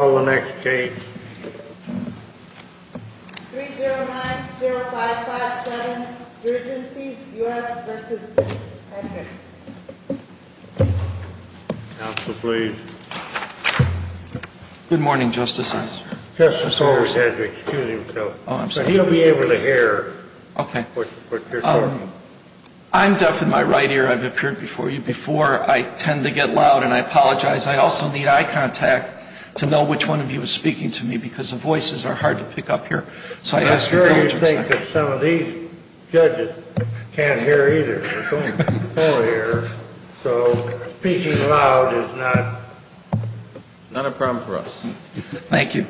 3090557, Urgencies US v. Henry. Counsel, please. Good morning, Justice. Justice always has to excuse himself. Oh, I'm sorry. He'll be able to hear what you're talking about. I'm deaf in my right ear. I've appeared before you before. I tend to get loud, and I apologize. I also need eye contact to know which one of you is speaking to me, because the voices are hard to pick up here. I'm sure you think that some of these judges can't hear either. So speaking loud is not a problem for us. Thank you.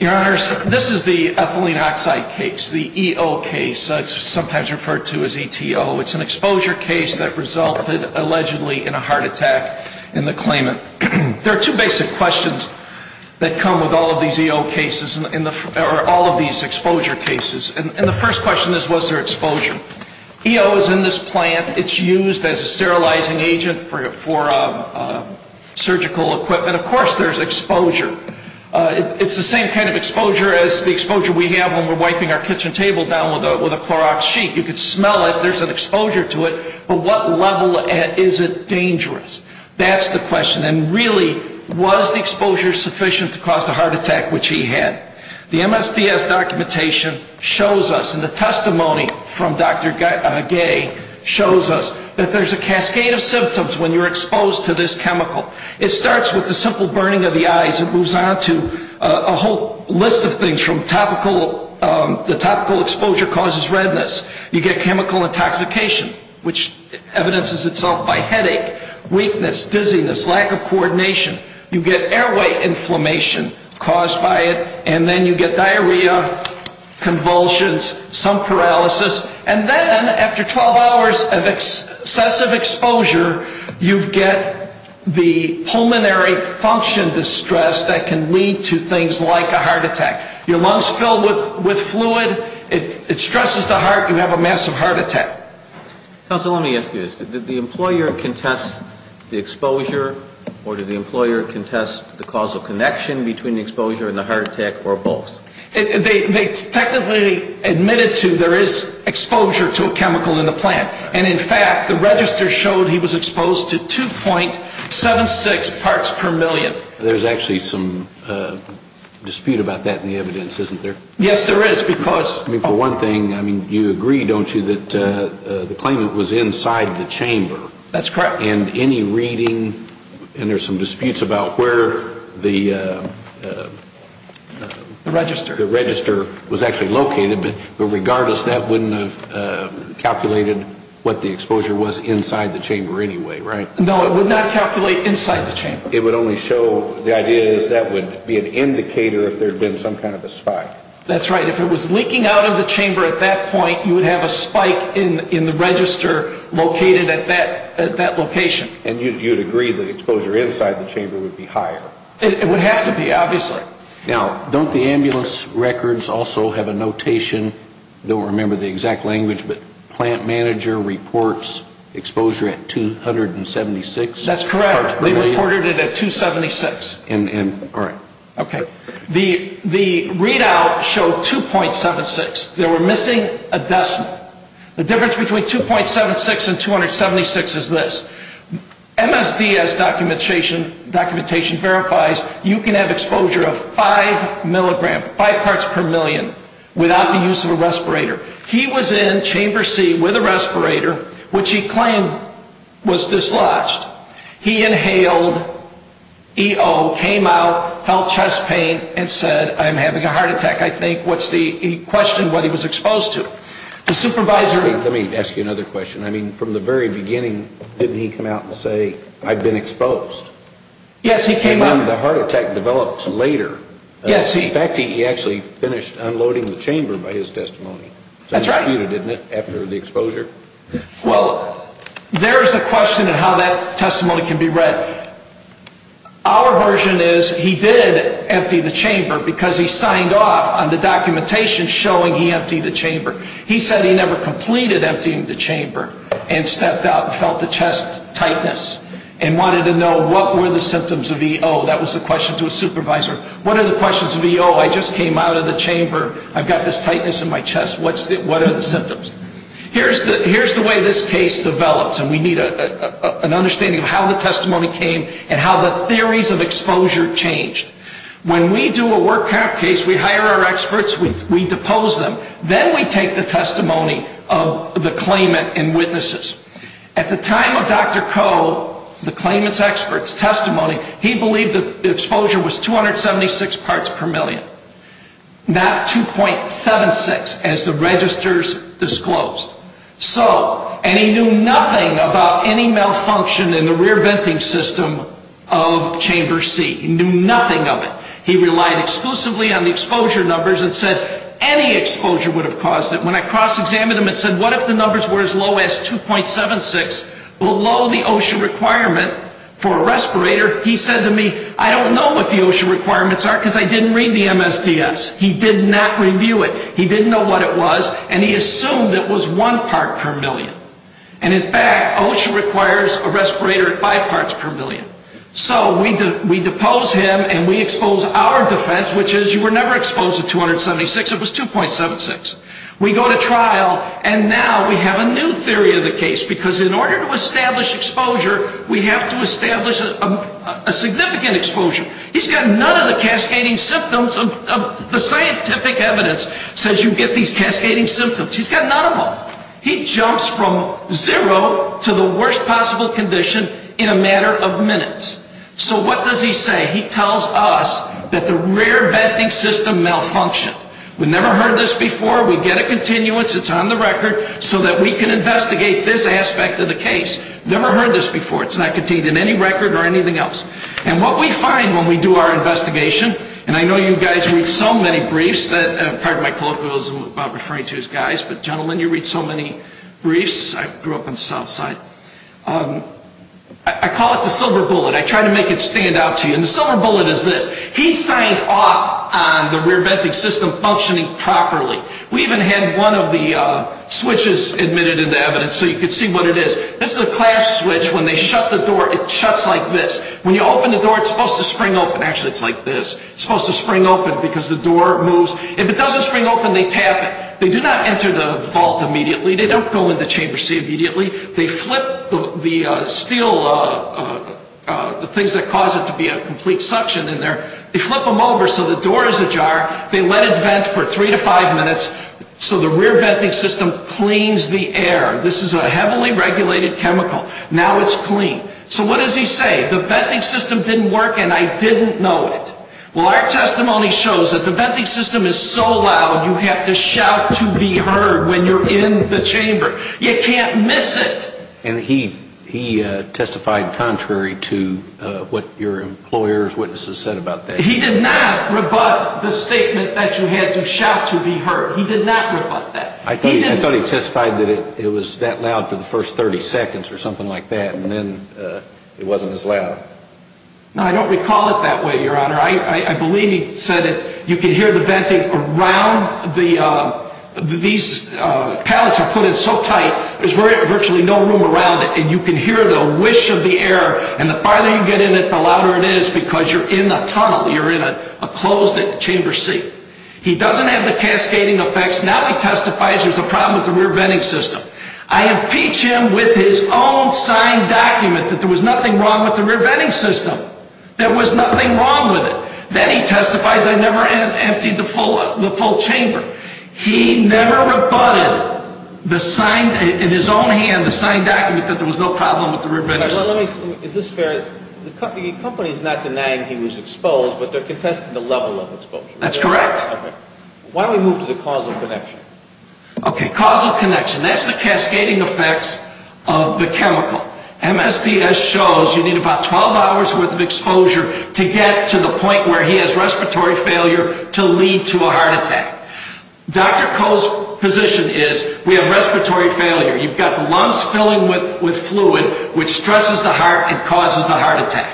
Your Honors, this is the ethylene oxide case, the EO case. It's sometimes referred to as ETO. It's an exposure case that resulted allegedly in a heart attack in the claimant. There are two basic questions that come with all of these EO cases, or all of these exposure cases. And the first question is, was there exposure? EO is in this plant. It's used as a sterilizing agent for surgical equipment. Of course there's exposure. It's the same kind of exposure as the exposure we have when we're wiping our kitchen table down with a Clorox sheet. You can smell it. There's an exposure to it. But what level is it dangerous? That's the question. And really, was the exposure sufficient to cause the heart attack which he had? The MSDS documentation shows us, and the testimony from Dr. Gay shows us, that there's a cascade of symptoms when you're exposed to this chemical. It starts with the simple burning of the eyes. It moves on to a whole list of things, from the topical exposure causes redness. You get chemical intoxication, which evidences itself by headache, weakness, dizziness, lack of coordination. You get airway inflammation caused by it. And then you get diarrhea, convulsions, some paralysis. And then, after 12 hours of excessive exposure, you get the pulmonary function distress that can lead to things like a heart attack. Your lungs fill with fluid. It stresses the heart. You have a massive heart attack. Counsel, let me ask you this. Did the employer contest the exposure, or did the employer contest the causal connection between the exposure and the heart attack, or both? They technically admitted to there is exposure to a chemical in the plant. And, in fact, the register showed he was exposed to 2.76 parts per million. There's actually some dispute about that in the evidence, isn't there? Yes, there is, because... I mean, for one thing, you agree, don't you, that the claimant was inside the chamber. That's correct. And any reading, and there's some disputes about where the... The register. The register was actually located, but regardless, that wouldn't have calculated what the exposure was inside the chamber anyway, right? No, it would not calculate inside the chamber. It would only show, the idea is that would be an indicator if there had been some kind of a spike. That's right. If it was leaking out of the chamber at that point, you would have a spike in the register located at that location. And you'd agree that exposure inside the chamber would be higher. It would have to be, obviously. Now, don't the ambulance records also have a notation, don't remember the exact language, but plant manager reports exposure at 2.76 parts per million? That's correct. They reported it at 2.76. All right. Okay. The readout showed 2.76. They were missing a decimal. The difference between 2.76 and 276 is this. MSDS documentation verifies you can have exposure of 5 parts per million without the use of a respirator. He was in chamber C with a respirator, which he claimed was dislodged. He inhaled EO, came out, felt chest pain, and said, I'm having a heart attack. I think he questioned what he was exposed to. Let me ask you another question. I mean, from the very beginning, didn't he come out and say, I've been exposed? Yes, he came out. The heart attack developed later. Yes, he did. In fact, he actually finished unloading the chamber by his testimony. That's right. It was disputed, isn't it, after the exposure? Well, there is a question on how that testimony can be read. Our version is he did empty the chamber because he signed off on the documentation showing he emptied the chamber. He said he never completed emptying the chamber and stepped out and felt the chest tightness and wanted to know what were the symptoms of EO. That was the question to his supervisor. What are the questions of EO? I just came out of the chamber. I've got this tightness in my chest. What are the symptoms? Here's the way this case develops, and we need an understanding of how the testimony came and how the theories of exposure changed. When we do a work out case, we hire our experts. We depose them. Then we take the testimony of the claimant and witnesses. At the time of Dr. Koh, the claimant's expert's testimony, he believed the exposure was 276 parts per million, not 2.76 as the registers disclosed. And he knew nothing about any malfunction in the rear venting system of chamber C. He knew nothing of it. He relied exclusively on the exposure numbers and said any exposure would have caused it. When I cross-examined him and said what if the numbers were as low as 2.76, below the OSHA requirement for a respirator, he said to me, I don't know what the OSHA requirements are because I didn't read the MSDS. He did not review it. He didn't know what it was, and he assumed it was one part per million. And, in fact, OSHA requires a respirator at five parts per million. So we depose him, and we expose our defense, which is you were never exposed to 276. It was 2.76. We go to trial, and now we have a new theory of the case, because in order to establish exposure, we have to establish a significant exposure. He's got none of the cascading symptoms of the scientific evidence says you get these cascading symptoms. He's got none of them. He jumps from zero to the worst possible condition in a matter of minutes. So what does he say? He tells us that the rear venting system malfunctioned. We've never heard this before. We get a continuance. It's on the record so that we can investigate this aspect of the case. Never heard this before. It's not contained in any record or anything else. And what we find when we do our investigation, and I know you guys read so many briefs. Part of my colloquialism is about referring to his guys, but gentlemen, you read so many briefs. I grew up on the South Side. I call it the silver bullet. I try to make it stand out to you. And the silver bullet is this. He signed off on the rear venting system functioning properly. We even had one of the switches admitted into evidence so you could see what it is. This is a clasp switch. When they shut the door, it shuts like this. When you open the door, it's supposed to spring open. Actually, it's like this. It's supposed to spring open because the door moves. If it doesn't spring open, they tap it. They do not enter the vault immediately. They don't go into chamber C immediately. They flip the steel, the things that cause it to be a complete suction in there. They flip them over so the door is ajar. They let it vent for three to five minutes so the rear venting system cleans the air. This is a heavily regulated chemical. Now it's clean. So what does he say? The venting system didn't work and I didn't know it. Well, our testimony shows that the venting system is so loud you have to shout to be heard when you're in the chamber. You can't miss it. And he testified contrary to what your employer's witnesses said about that. He did not rebut the statement that you had to shout to be heard. He did not rebut that. I thought he testified that it was that loud for the first 30 seconds or something like that and then it wasn't as loud. No, I don't recall it that way, Your Honor. I believe he said it. You can hear the venting around. These pallets are put in so tight there's virtually no room around it. And you can hear the whish of the air and the farther you get in it the louder it is because you're in the tunnel. You're in a closed chamber seat. He doesn't have the cascading effects. Now he testifies there's a problem with the rear venting system. I impeach him with his own signed document that there was nothing wrong with the rear venting system. There was nothing wrong with it. Then he testifies I never emptied the full chamber. He never rebutted in his own hand the signed document that there was no problem with the rear venting system. Is this fair? The company is not denying he was exposed but they're contesting the level of exposure. That's correct. Why don't we move to the causal connection? Okay, causal connection. That's the cascading effects of the chemical. MSDS shows you need about 12 hours worth of exposure to get to the point where he has respiratory failure to lead to a heart attack. Dr. Koh's position is we have respiratory failure. You've got the lungs filling with fluid which stresses the heart and causes the heart attack.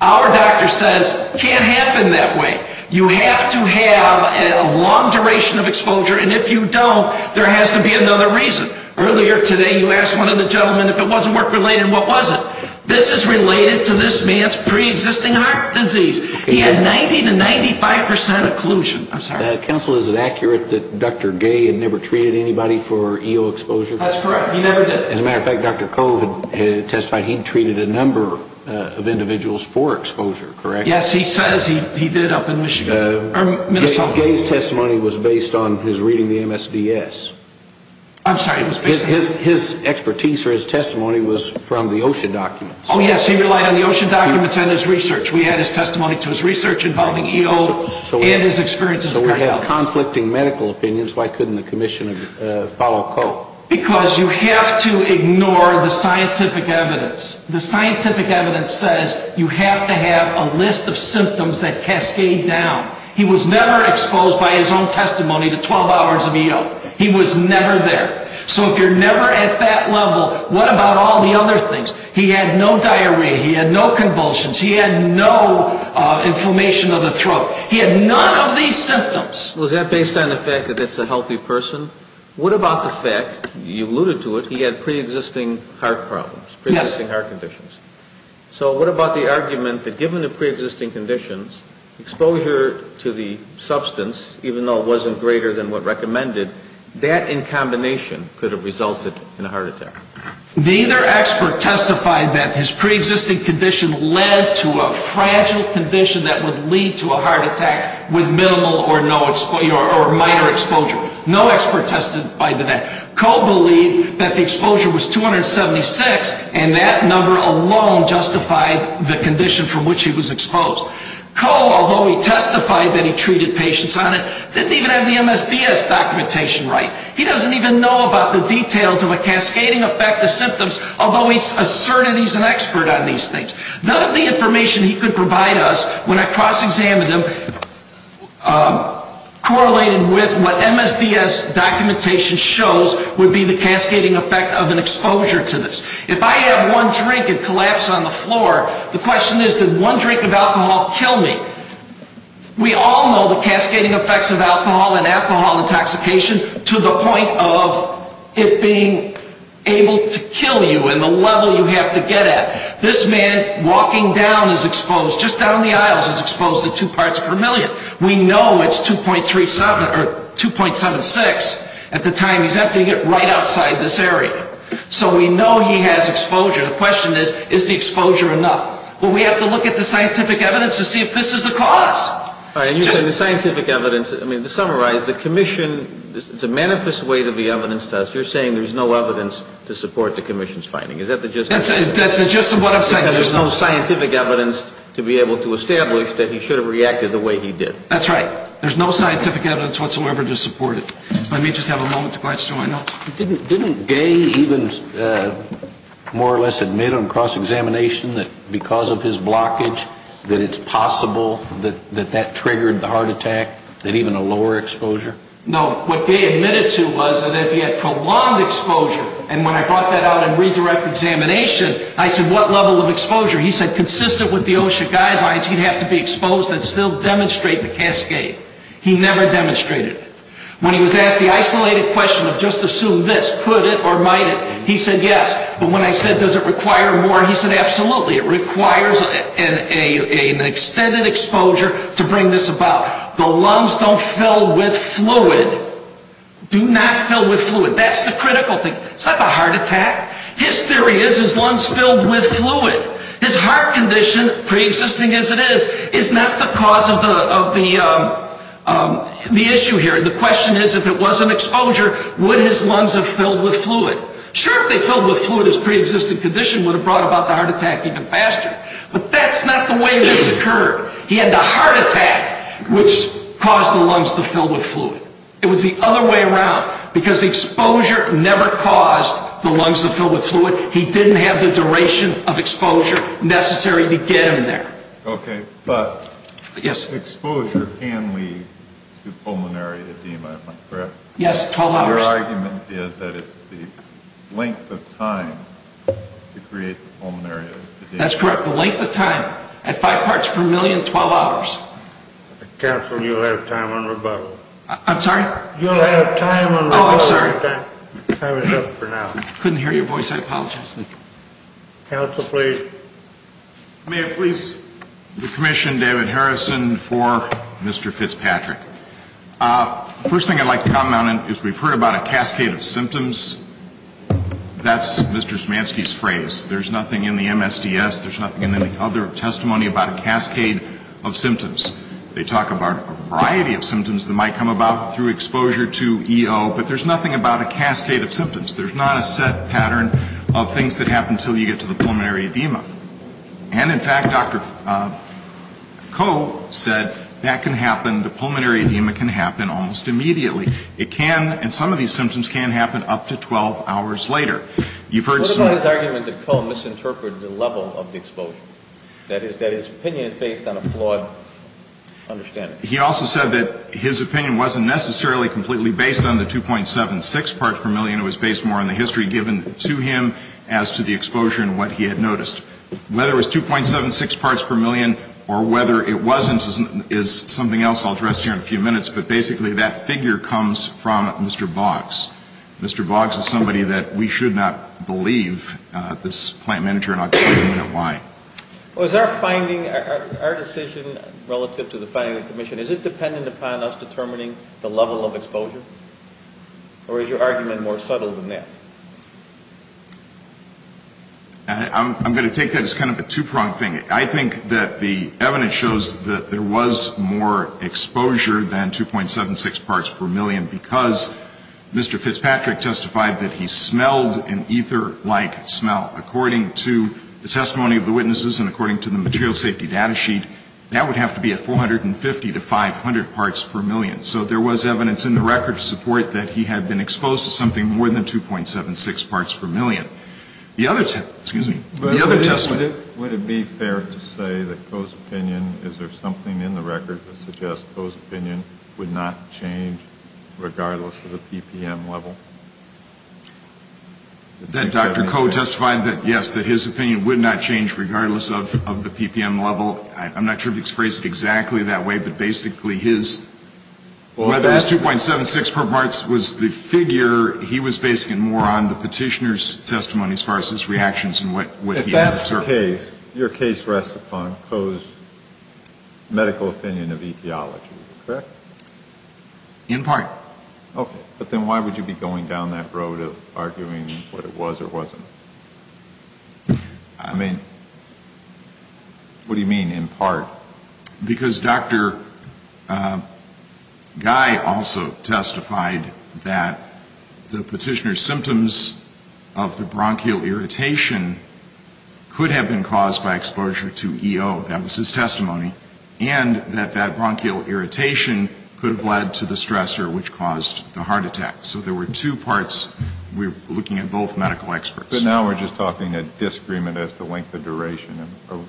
Our doctor says it can't happen that way. You have to have a long duration of exposure and if you don't there has to be another reason. Earlier today you asked one of the gentlemen if it wasn't work related and what was it? This is related to this man's pre-existing heart disease. He had 90 to 95 percent occlusion. Counsel, is it accurate that Dr. Gay had never treated anybody for EO exposure? That's correct. He never did. As a matter of fact, Dr. Koh testified he'd treated a number of individuals for exposure, correct? Yes, he says he did up in Michigan or Minnesota. Gay's testimony was based on his reading the MSDS. I'm sorry. His expertise or his testimony was from the OSHA documents. Oh, yes. He relied on the OSHA documents and his research. We had his testimony to his research involving EO and his experiences with great health. So we have conflicting medical opinions. Why couldn't the commission follow Koh? Because you have to ignore the scientific evidence. The scientific evidence says you have to have a list of symptoms that cascade down. He was never exposed by his own testimony to 12 hours of EO. He was never there. So if you're never at that level, what about all the other things? He had no diarrhea. He had no convulsions. He had no inflammation of the throat. He had none of these symptoms. Was that based on the fact that it's a healthy person? What about the fact, you alluded to it, he had pre-existing heart problems, pre-existing heart conditions. So what about the argument that given the pre-existing conditions, exposure to the substance, even though it wasn't greater than what recommended, that in combination could have resulted in a heart attack? Neither expert testified that his pre-existing condition led to a fragile condition that would lead to a heart attack with minimal or minor exposure. No expert tested by the net. Koh believed that the exposure was 276, and that number alone justified the condition from which he was exposed. Koh, although he testified that he treated patients on it, didn't even have the MSDS documentation right. He doesn't even know about the details of a cascading effect of symptoms, although he asserted he's an expert on these things. None of the information he could provide us, when I cross-examined him, correlated with what MSDS documentation shows would be the cascading effect of an exposure to this. If I have one drink and collapse on the floor, the question is, did one drink of alcohol kill me? We all know the cascading effects of alcohol and alcohol intoxication to the point of it being able to kill you in the level you have to get at. This man walking down is exposed, just down the aisles is exposed to two parts per million. We know it's 2.37 or 2.76 at the time he's emptying it right outside this area. So we know he has exposure. The question is, is the exposure enough? Well, we have to look at the scientific evidence to see if this is the cause. All right, and you say the scientific evidence. I mean, to summarize, the Commission, it's a manifest way to be evidence-tested. You're saying there's no evidence to support the Commission's finding. Is that the gist of it? That's the gist of what I'm saying. You're saying there's no scientific evidence to be able to establish that he should have reacted the way he did. That's right. There's no scientific evidence whatsoever to support it. Let me just have a moment to glance through my notes. Didn't Gay even more or less admit on cross-examination that because of his blockage, that it's possible that that triggered the heart attack, that even a lower exposure? No. What Gay admitted to was that if he had prolonged exposure, and when I brought that out in redirect examination, I said, what level of exposure? He said consistent with the OSHA guidelines, he'd have to be exposed and still demonstrate the cascade. He never demonstrated. When he was asked the isolated question of just assume this, could it or might it, he said yes. But when I said does it require more, he said absolutely. It requires an extended exposure to bring this about. The lungs don't fill with fluid. Do not fill with fluid. That's the critical thing. It's not the heart attack. His theory is his lungs filled with fluid. His heart condition, pre-existing as it is, is not the cause of the issue here. The question is if it wasn't exposure, would his lungs have filled with fluid? Sure, if they filled with fluid, his pre-existing condition would have brought about the heart attack even faster. But that's not the way this occurred. He had the heart attack, which caused the lungs to fill with fluid. It was the other way around, because the exposure never caused the lungs to fill with fluid. He didn't have the duration of exposure necessary to get him there. Okay, but exposure can lead to pulmonary edema, am I correct? Yes, 12 hours. Your argument is that it's the length of time to create pulmonary edema. That's correct, the length of time. At five parts per million, 12 hours. Counsel, you'll have time on rebuttal. I'm sorry? You'll have time on rebuttal. Oh, I'm sorry. Time is up for now. I couldn't hear your voice. I apologize. Counsel, please. May I please commission David Harrison for Mr. Fitzpatrick? First thing I'd like to comment on is we've heard about a cascade of symptoms. That's Mr. Zmanski's phrase. There's nothing in the MSDS, there's nothing in any other testimony about a cascade of symptoms. They talk about a variety of symptoms that might come about through exposure to EO, but there's nothing about a cascade of symptoms. There's not a set pattern of things that happen until you get to the pulmonary edema. And, in fact, Dr. Koh said that can happen, the pulmonary edema can happen almost immediately. It can, and some of these symptoms can happen up to 12 hours later. What about his argument that Koh misinterpreted the level of the exposure, that his opinion is based on a flawed understanding? He also said that his opinion wasn't necessarily completely based on the 2.76 parts per million. It was based more on the history given to him as to the exposure and what he had noticed. Whether it was 2.76 parts per million or whether it wasn't is something else I'll address here in a few minutes. But, basically, that figure comes from Mr. Boggs. Mr. Boggs is somebody that we should not believe this plant manager and I'll tell you why. Was our finding, our decision relative to the finding of the commission, is it dependent upon us determining the level of exposure? Or is your argument more subtle than that? I'm going to take that as kind of a two-pronged thing. I think that the evidence shows that there was more exposure than 2.76 parts per million because Mr. Fitzpatrick testified that he smelled an ether-like smell. According to the testimony of the witnesses and according to the material safety data sheet, that would have to be at 450 to 500 parts per million. So there was evidence in the record to support that he had been exposed to something more than 2.76 parts per million. The other testimony. Would it be fair to say that Coe's opinion, is there something in the record that suggests Coe's opinion would not change regardless of the PPM level? That Dr. Coe testified that, yes, that his opinion would not change regardless of the PPM level. I'm not sure if he's phrased it exactly that way, but basically his, whether it was 2.76 per parts was the figure. He was basing it more on the petitioner's testimony as far as his reactions and what he had observed. Your case rests upon Coe's medical opinion of etiology, correct? In part. Okay. But then why would you be going down that road of arguing what it was or wasn't? I mean, what do you mean in part? Well, because Dr. Guy also testified that the petitioner's symptoms of the bronchial irritation could have been caused by exposure to E.O., that was his testimony, and that that bronchial irritation could have led to the stressor, which caused the heart attack. So there were two parts. We're looking at both medical experts. But now we're just talking a disagreement as to length of duration or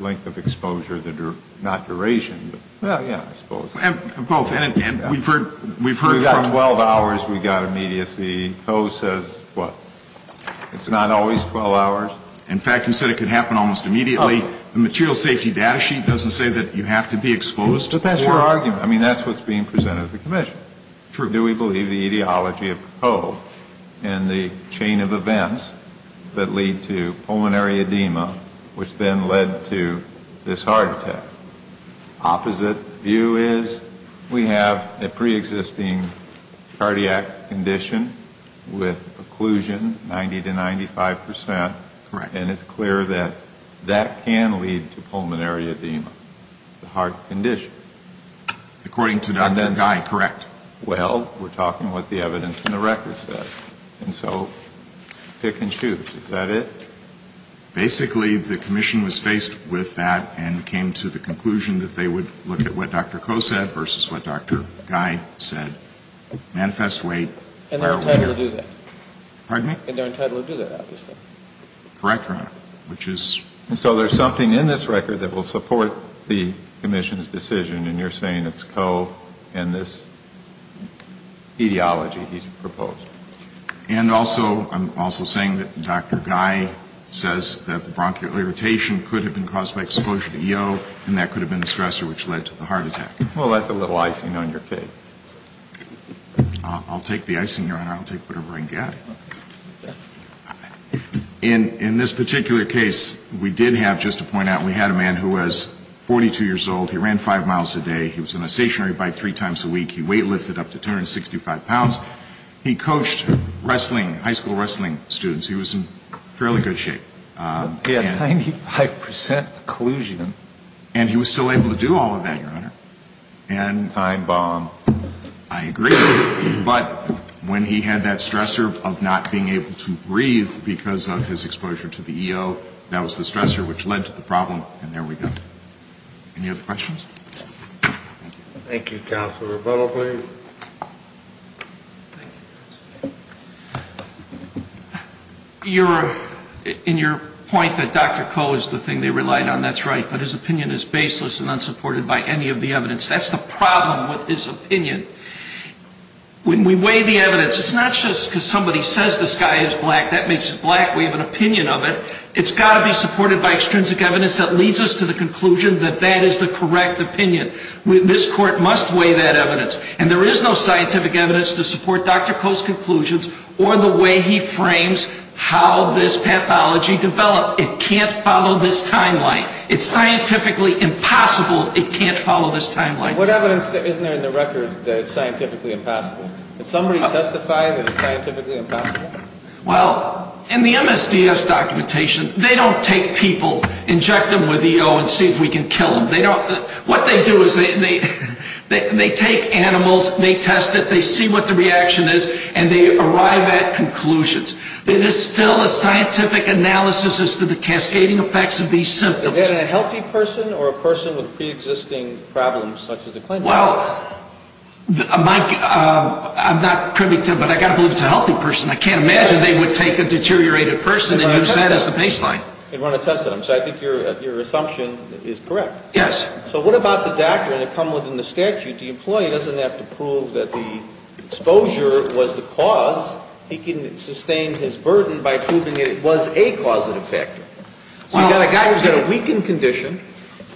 length of exposure, not duration. Well, yeah, I suppose. Both. And we've heard from you. We've got 12 hours. We've got immediacy. Coe says, what, it's not always 12 hours? In fact, you said it could happen almost immediately. The material safety data sheet doesn't say that you have to be exposed. But that's your argument. I mean, that's what's being presented at the commission. True. So what do we believe, the etiology of Coe and the chain of events that lead to pulmonary edema, which then led to this heart attack? Opposite view is we have a preexisting cardiac condition with occlusion, 90 to 95%. Correct. And it's clear that that can lead to pulmonary edema, the heart condition. According to Dr. Guy, correct. Well, we're talking what the evidence in the record says. And so pick and choose. Is that it? Basically, the commission was faced with that and came to the conclusion that they would look at what Dr. Coe said versus what Dr. Guy said. Manifest weight. And they're entitled to do that. And they're entitled to do that, obviously. Correct, Your Honor. And so there's something in this record that will support the commission's decision, and you're saying it's Coe and this etiology he's proposed. And also, I'm also saying that Dr. Guy says that the bronchial irritation could have been caused by exposure to EO, and that could have been the stressor which led to the heart attack. Well, that's a little icing on your cake. I'll take the icing, Your Honor. I'll take whatever I get. In this particular case, we did have, just to point out, we had a man who was 42 years old. He ran five miles a day. He was on a stationary bike three times a week. He weight lifted up to 265 pounds. He coached wrestling, high school wrestling students. He was in fairly good shape. He had 95 percent collusion. And he was still able to do all of that, Your Honor. Time bomb. I agree. But when he had that stressor of not being able to breathe because of his exposure to the EO, that was the stressor which led to the problem, and there we go. Any other questions? Thank you. Counsel Rebello, please. In your point that Dr. Coe is the thing they relied on, that's right. But his opinion is baseless and unsupported by any of the evidence. That's the problem with his opinion. When we weigh the evidence, it's not just because somebody says this guy is black, that makes him black, we have an opinion of it. It's got to be supported by extrinsic evidence that leads us to the conclusion that that is the correct opinion. This court must weigh that evidence. And there is no scientific evidence to support Dr. Coe's conclusions or the way he frames how this pathology developed. It can't follow this timeline. It's scientifically impossible it can't follow this timeline. What evidence isn't there in the record that it's scientifically impossible? Did somebody testify that it's scientifically impossible? Well, in the MSDS documentation, they don't take people, inject them with EO and see if we can kill them. What they do is they take animals, they test it, they see what the reaction is, and they arrive at conclusions. It is still a scientific analysis as to the cascading effects of these symptoms. Is that a healthy person or a person with preexisting problems such as the claimant? Well, Mike, I'm not privy to it, but I've got to believe it's a healthy person. I can't imagine they would take a deteriorated person and use that as the baseline. And run a test on them. So I think your assumption is correct. Yes. So what about the doctor? The employee doesn't have to prove that the exposure was the cause. He can sustain his burden by proving that it was a causative factor. You've got a guy who's got a weakened condition.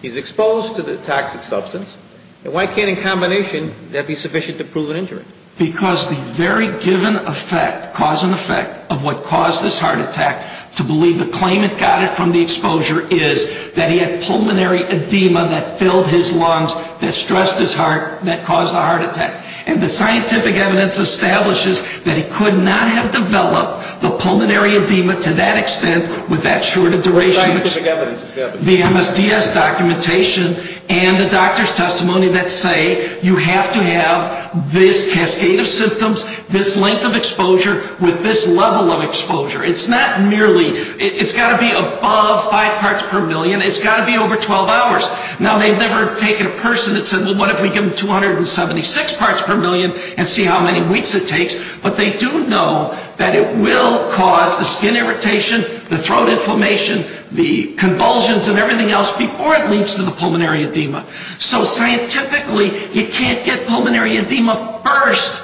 He's exposed to the toxic substance. And why can't, in combination, that be sufficient to prove an injury? Because the very given effect, cause and effect, of what caused this heart attack to believe the claimant got it from the exposure is that he had pulmonary edema that filled his lungs, that stressed his heart, that caused the heart attack. And the scientific evidence establishes that he could not have developed the pulmonary edema to that extent with that short a duration. What scientific evidence establishes that? The MSDS documentation and the doctor's testimony that say you have to have this cascade of symptoms, this length of exposure, with this level of exposure. It's got to be above 5 parts per million. It's got to be over 12 hours. Now, they've never taken a person and said, well, what if we give them 276 parts per million and see how many weeks it takes? But they do know that it will cause the skin irritation, the throat inflammation, the convulsions and everything else, before it leads to the pulmonary edema. So scientifically, you can't get pulmonary edema first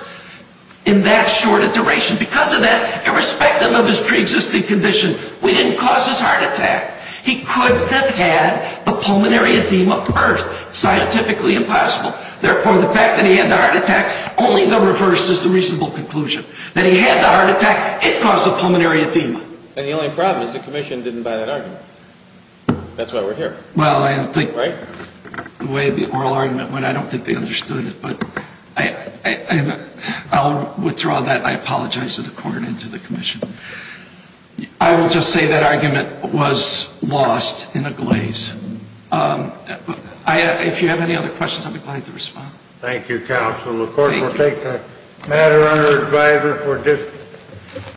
in that short a duration. Because of that, irrespective of his preexisting condition, we didn't cause his heart attack. He couldn't have had the pulmonary edema first. Scientifically impossible. Therefore, the fact that he had the heart attack only reverses the reasonable conclusion. That he had the heart attack, it caused the pulmonary edema. And the only problem is the commission didn't buy that argument. That's why we're here. Well, I don't think the way the oral argument went, I don't think they understood it. I'll withdraw that. I apologize to the court and to the commission. I will just say that argument was lost in a glaze. If you have any other questions, I'll be glad to respond. Thank you, counsel. Of course, we'll take the matter under advisory for discussion.